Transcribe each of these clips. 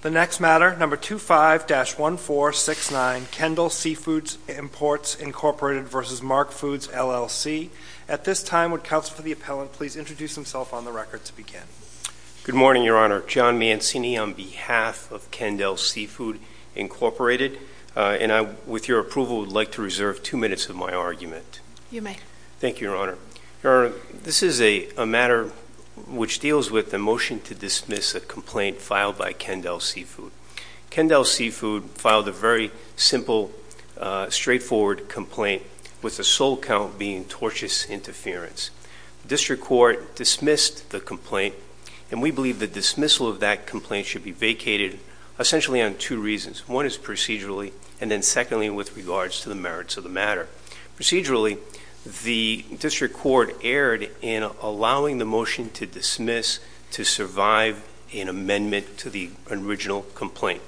The next matter, No. 25-1469, Kendall Seafood Imports, Inc. v. Mark Foods, LLC At this time, would Counsel for the Appellant please introduce himself on the record to begin? Good morning, Your Honor. John Mancini on behalf of Kendall Seafood, Inc. With your approval, I would like to reserve two minutes of my argument. You may. Thank you, Your Honor. Your Honor, this is a matter which deals with the motion to dismiss a complaint filed by Kendall Seafood. Kendall Seafood filed a very simple, straightforward complaint with the sole count being tortious interference. The District Court dismissed the complaint, and we believe the dismissal of that complaint should be vacated essentially on two reasons. One is procedurally, and then secondly, with regards to the merits of the matter. Procedurally, the District Court erred in allowing the motion to dismiss to survive an amendment to the original complaint.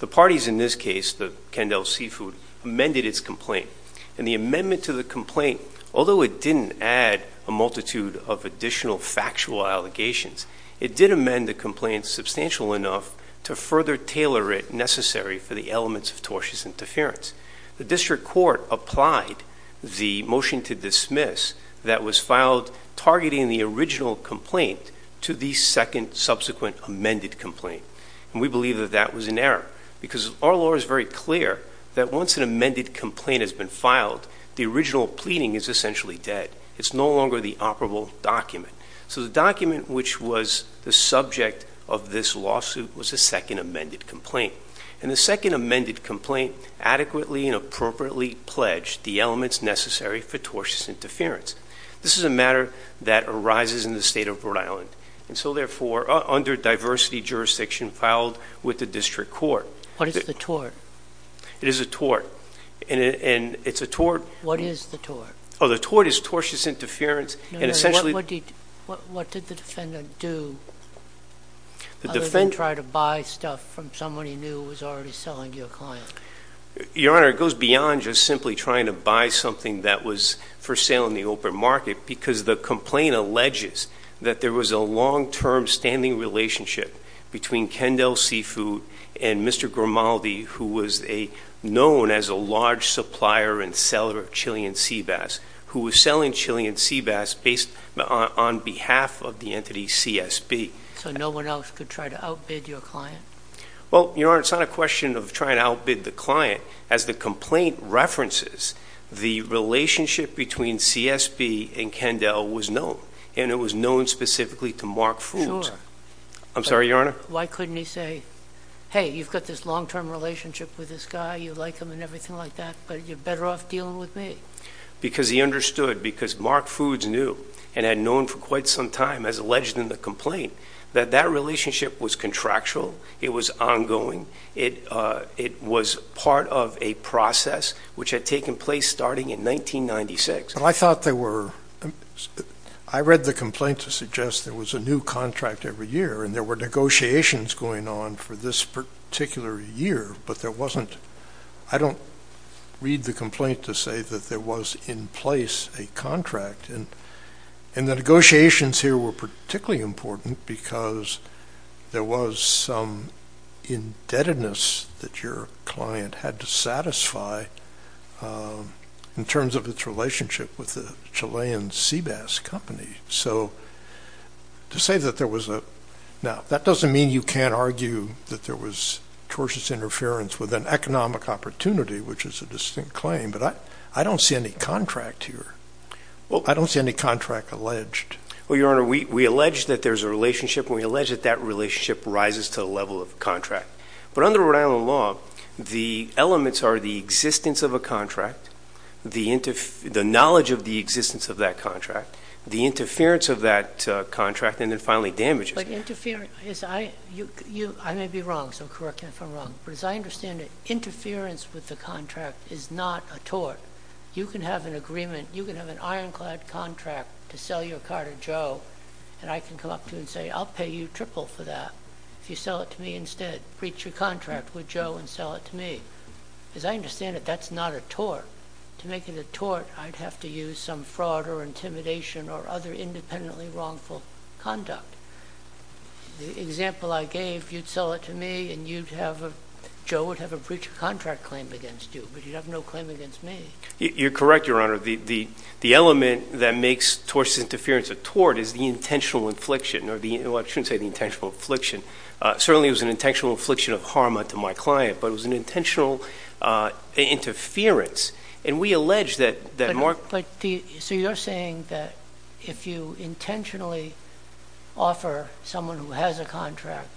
The parties in this case, Kendall Seafood, amended its complaint, and the amendment to the complaint, although it didn't add a multitude of additional factual allegations, it did amend the complaint substantial enough to further tailor it necessary for the elements of tortious interference. The District Court applied the motion to dismiss that was filed targeting the original complaint to the second subsequent amended complaint, and we believe that that was an error because our law is very clear that once an amended complaint has been filed, the original pleading is essentially dead. It's no longer the operable document. So the document which was the subject of this lawsuit was the second amended complaint, and the second amended complaint adequately and appropriately pledged the elements necessary for tortious interference. This is a matter that arises in the state of Rhode Island, and so therefore under diversity jurisdiction filed with the District Court. What is the tort? It is a tort, and it's a tort. What is the tort? Oh, the tort is tortious interference and essentially. What did the defendant do other than try to buy stuff from someone he knew was already selling to your client? Your Honor, it goes beyond just simply trying to buy something that was for sale in the open market because the complaint alleges that there was a long-term standing relationship between Kendall Seafood and Mr. Grimaldi, who was known as a large supplier and seller of Chilean sea bass, who was selling Chilean sea bass based on behalf of the entity CSB. So no one else could try to outbid your client? Well, Your Honor, it's not a question of trying to outbid the client. As the complaint references, the relationship between CSB and Kendall was known, and it was known specifically to Mark Foods. I'm sorry, Your Honor? Why couldn't he say, hey, you've got this long-term relationship with this guy, you like him and everything like that, but you're better off dealing with me? Because he understood, because Mark Foods knew and had known for quite some time, as alleged in the complaint, that that relationship was contractual, it was ongoing, it was part of a process which had taken place starting in 1996. But I thought there were, I read the complaint to suggest there was a new contract every year, and there were negotiations going on for this particular year, but there wasn't, I don't read the complaint to say that there was in place a contract, and the negotiations here were particularly important because there was some indebtedness that your client had to satisfy in terms of its relationship with the Chilean sea bass company. So to say that there was a, now, that doesn't mean you can't argue that there was tortious interference with an economic opportunity, which is a distinct claim, but I don't see any contract here. I don't see any contract alleged. Well, Your Honor, we allege that there's a relationship, and we allege that that relationship rises to the level of contract. But under Rhode Island law, the elements are the existence of a contract, the knowledge of the existence of that contract, the interference of that contract, and then finally damages. But interference, I may be wrong, so correct me if I'm wrong, but as I understand it, interference with the contract is not a tort. You can have an agreement, you can have an ironclad contract to sell your car to Joe, and I can come up to you and say, I'll pay you triple for that. If you sell it to me instead, breach your contract with Joe and sell it to me. As I understand it, that's not a tort. To make it a tort, I'd have to use some fraud or intimidation or other independently wrongful conduct. The example I gave, you'd sell it to me, and Joe would have a breach of contract claim against you, but you'd have no claim against me. You're correct, Your Honor. The element that makes tortious interference a tort is the intentional infliction, or I shouldn't say the intentional infliction. Certainly it was an intentional infliction of harm unto my client, but it was an intentional interference, and we allege that Mark ---- So you're saying that if you intentionally offer someone who has a contract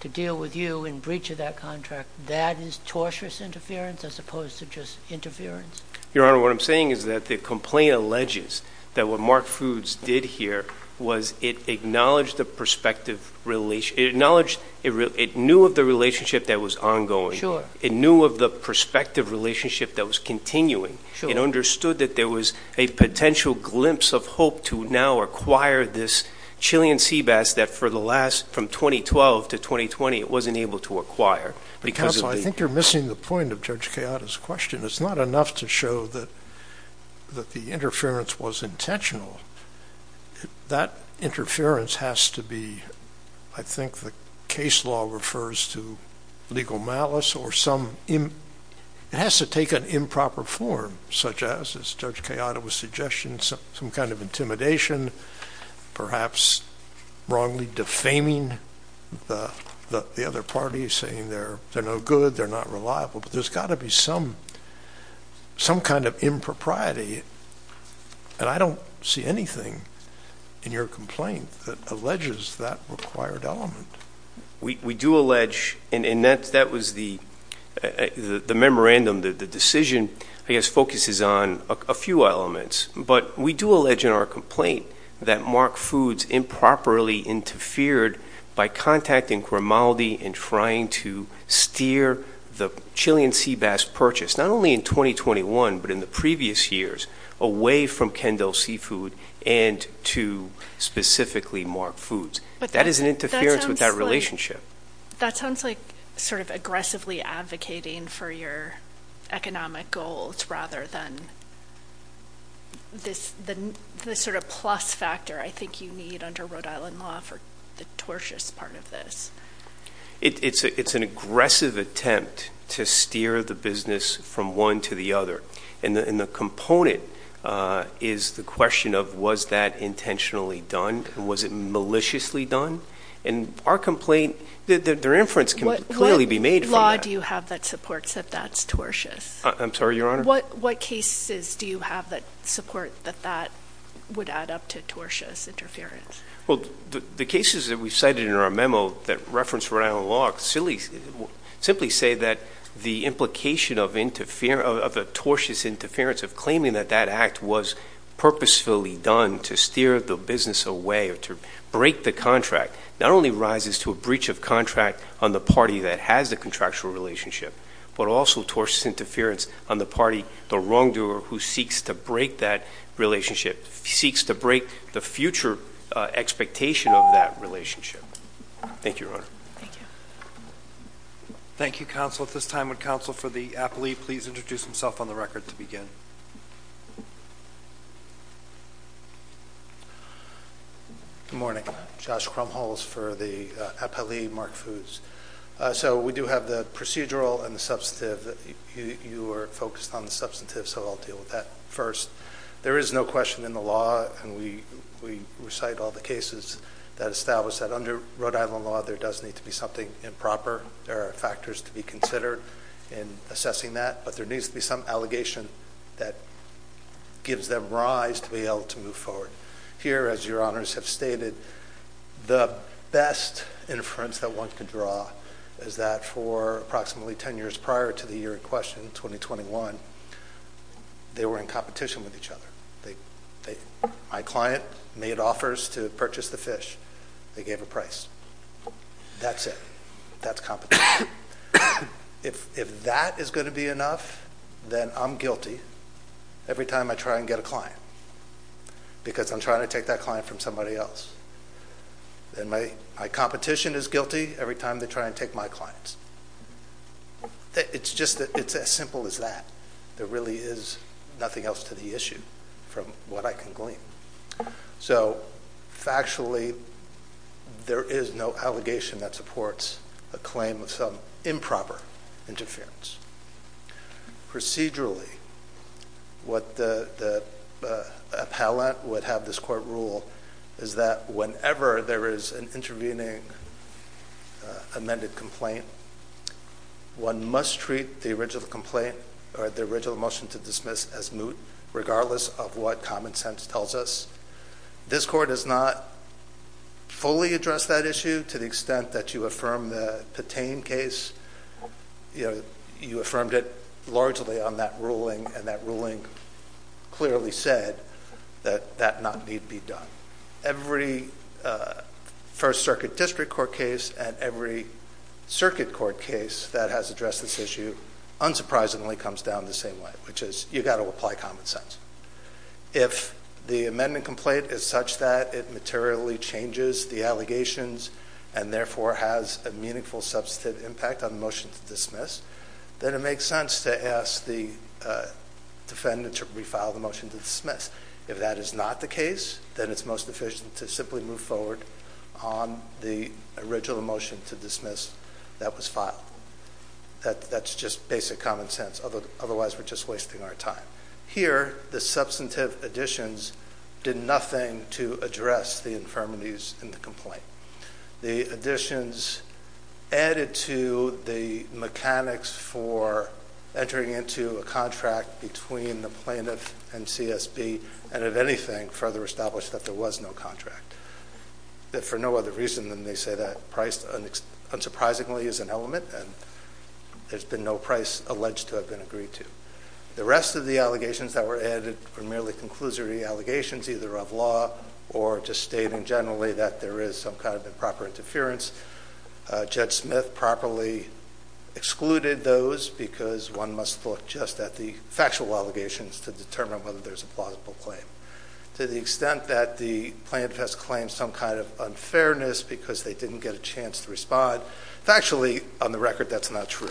to deal with you in breach of that contract, that is tortious interference as opposed to just interference? Your Honor, what I'm saying is that the complaint alleges that what Mark Foods did here was it acknowledged the perspective ---- It acknowledged it knew of the relationship that was ongoing. It knew of the prospective relationship that was continuing. It understood that there was a potential glimpse of hope to now acquire this Chilean sea bass that for the last ---- from 2012 to 2020 it wasn't able to acquire because of the ---- Counsel, I think you're missing the point of Judge Chiara's question. It's not enough to show that the interference was intentional. That interference has to be ---- I think the case law refers to legal malice or some ---- It has to take an improper form, such as, as Judge Chiara was suggesting, some kind of intimidation, perhaps wrongly defaming the other party, saying they're no good, they're not reliable, but there's got to be some kind of impropriety, and I don't see anything in your complaint that alleges that required element. We do allege, and that was the memorandum, the decision, I guess focuses on a few elements, but we do allege in our complaint that Mark Foods improperly interfered by contacting Cremaldi and trying to steer the Chilean sea bass purchase, not only in 2021, but in the previous years, away from Kendall Seafood and to specifically Mark Foods. That is an interference with that relationship. That sounds like sort of aggressively advocating for your economic goals rather than this sort of plus factor I think you need under Rhode Island law for the tortious part of this. It's an aggressive attempt to steer the business from one to the other, and the component is the question of was that intentionally done and was it maliciously done, and our complaint, their inference can clearly be made from that. What law do you have that supports that that's tortious? I'm sorry, Your Honor? What cases do you have that support that that would add up to tortious interference? Well, the cases that we cited in our memo that reference Rhode Island law simply say that the implication of the tortious interference of claiming that that act was purposefully done to steer the business away or to break the contract not only rises to a breach of contract on the party that has the contractual relationship, but also tortious interference on the party, the wrongdoer who seeks to break that relationship, seeks to break the future expectation of that relationship. Thank you, Your Honor. Thank you. Thank you, counsel. At this time, would counsel for the appellee please introduce himself on the record to begin? Good morning. Josh Krumholz for the appellee, Mark Foods. So we do have the procedural and the substantive. You were focused on the substantive, so I'll deal with that first. There is no question in the law, and we recite all the cases that establish that under Rhode Island law, there does need to be something improper or factors to be considered in assessing that, but there needs to be some allegation that gives them rise to be able to move forward. Here, as Your Honors have stated, the best inference that one could draw is that for approximately 10 years prior to the year in question, 2021, they were in competition with each other. My client made offers to purchase the fish. They gave a price. That's it. That's competition. If that is going to be enough, then I'm guilty every time I try and get a client because I'm trying to take that client from somebody else. My competition is guilty every time they try and take my clients. It's as simple as that. There really is nothing else to the issue from what I can glean. So factually, there is no allegation that supports a claim of some improper interference. Procedurally, what the appellant would have this court rule is that whenever there is an intervening amended complaint, one must treat the original complaint or the original motion to dismiss as moot, regardless of what common sense tells us. This court has not fully addressed that issue. To the extent that you affirm the Patain case, you affirmed it largely on that ruling, and that ruling clearly said that that not need be done. Every First Circuit District Court case and every Circuit Court case that has addressed this issue unsurprisingly comes down the same way, which is you've got to apply common sense. If the amended complaint is such that it materially changes the allegations and therefore has a meaningful substantive impact on the motion to dismiss, then it makes sense to ask the defendant to refile the motion to dismiss. If that is not the case, then it's most efficient to simply move forward on the original motion to dismiss that was filed. That's just basic common sense. Otherwise, we're just wasting our time. Here, the substantive additions did nothing to address the infirmities in the complaint. The additions added to the mechanics for entering into a contract between the plaintiff and CSB and, if anything, further established that there was no contract. For no other reason than they say that price unsurprisingly is an element, and there's been no price alleged to have been agreed to. The rest of the allegations that were added were merely conclusory allegations either of law or just stating generally that there is some kind of improper interference. Judge Smith properly excluded those because one must look just at the factual allegations to determine whether there's a plausible claim. To the extent that the plaintiff has claimed some kind of unfairness because they didn't get a chance to respond, factually, on the record, that's not true.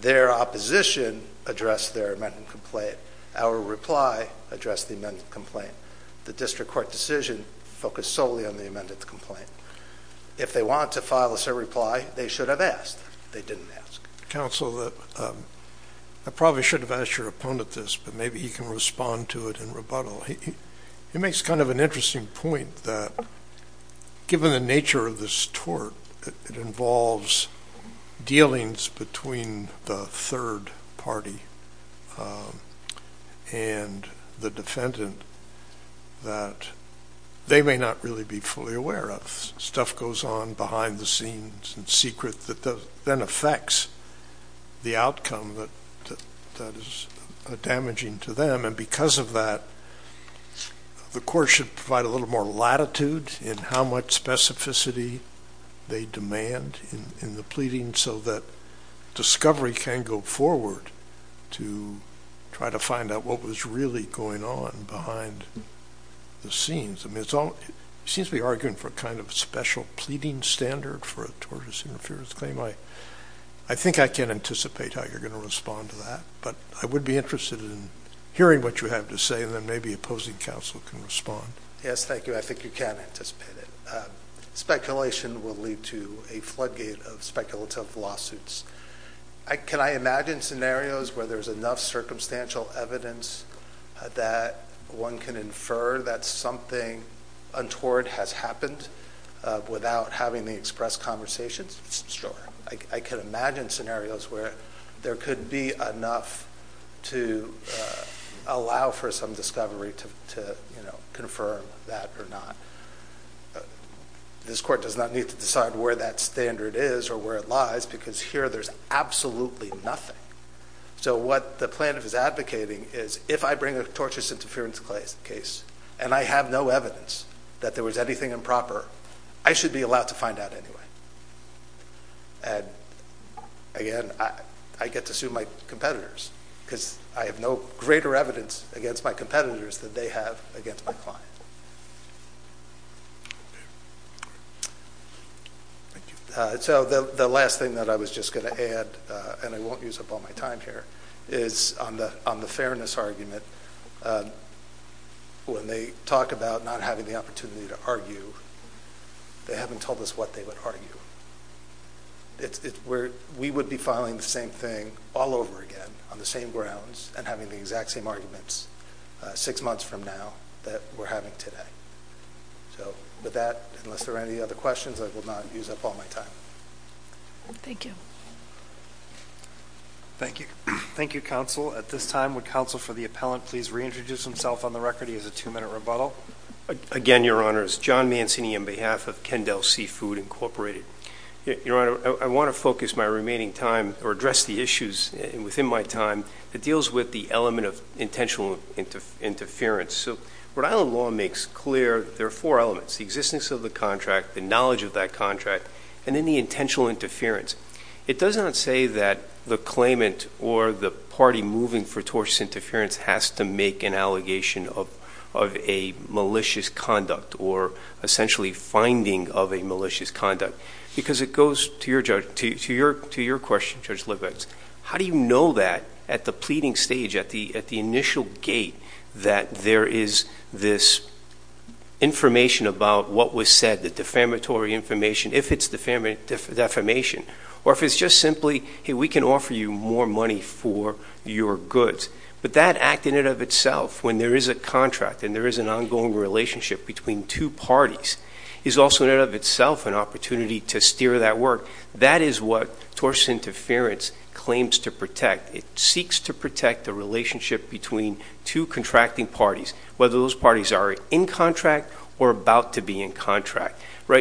Their opposition addressed their amended complaint. Our reply addressed the amended complaint. The district court decision focused solely on the amended complaint. If they want to file us a reply, they should have asked. They didn't ask. Counsel, I probably should have asked your opponent this, but maybe he can respond to it in rebuttal. He makes kind of an interesting point that given the nature of this tort, it involves dealings between the third party and the defendant that they may not really be fully aware of. Stuff goes on behind the scenes in secret that then affects the outcome that is damaging to them, and because of that, the court should provide a little more latitude in how much specificity they demand in the pleading so that discovery can go forward to try to find out what was really going on behind the scenes. I mean, it seems to be arguing for a kind of special pleading standard for a tortious interference claim. I think I can anticipate how you're going to respond to that, but I would be interested in hearing what you have to say, and then maybe opposing counsel can respond. Yes, thank you. I think you can anticipate it. Speculation will lead to a floodgate of speculative lawsuits. Can I imagine scenarios where there's enough circumstantial evidence that one can infer that something untoward has happened without having the express conversations? I can imagine scenarios where there could be enough to allow for some discovery to confirm that or not. This court does not need to decide where that standard is or where it lies because here there's absolutely nothing. So what the plaintiff is advocating is if I bring a tortious interference case and I have no evidence that there was anything improper, I should be allowed to find out anyway. Again, I get to sue my competitors because I have no greater evidence against my competitors than they have against my client. So the last thing that I was just going to add, and I won't use up all my time here, is on the fairness argument. When they talk about not having the opportunity to argue, they haven't told us what they would argue. We would be filing the same thing all over again on the same grounds and having the exact same arguments six months from now that we're having today. So with that, unless there are any other questions, I will not use up all my time. Thank you. Thank you. Thank you, Counsel. At this time, would Counsel for the Appellant please reintroduce himself on the record? He has a two-minute rebuttal. Again, Your Honors, John Mancini on behalf of Kendall Seafood Incorporated. Your Honor, I want to focus my remaining time or address the issues within my time that deals with the element of intentional interference. Rhode Island law makes clear there are four elements, the existence of the contract, the knowledge of that contract, and then the intentional interference. It does not say that the claimant or the party moving for tortious interference has to make an allegation of a malicious conduct or essentially finding of a malicious conduct, because it goes to your question, Judge Libetz, how do you know that at the pleading stage, at the initial gate, that there is this information about what was said, the defamatory information, if it's defamation, or if it's just simply, hey, we can offer you more money for your goods. But that act in and of itself, when there is a contract and there is an ongoing relationship between two parties, is also in and of itself an opportunity to steer that work. That is what tortious interference claims to protect. It seeks to protect the relationship between two contracting parties, whether those parties are in contract or about to be in contract.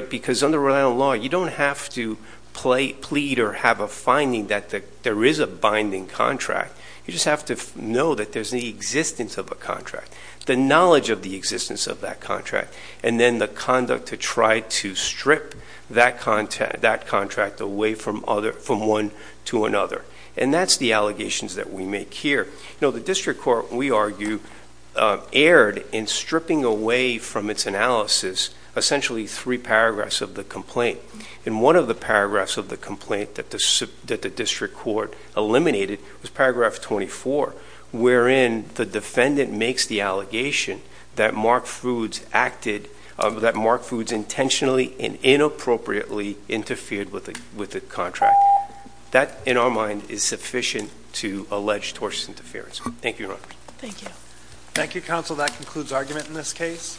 Because under Rhode Island law, you don't have to plead or have a finding that there is a binding contract. You just have to know that there's the existence of a contract, the knowledge of the existence of that contract, and then the conduct to try to strip that contract away from one to another. And that's the allegations that we make here. The district court, we argue, erred in stripping away from its analysis essentially three paragraphs of the complaint. And one of the paragraphs of the complaint that the district court eliminated was paragraph 24, wherein the defendant makes the allegation that Mark Foods intentionally and inappropriately interfered with the contract. That, in our mind, is sufficient to allege tortious interference. Thank you, Your Honor. Thank you. Thank you, counsel. That concludes argument in this case.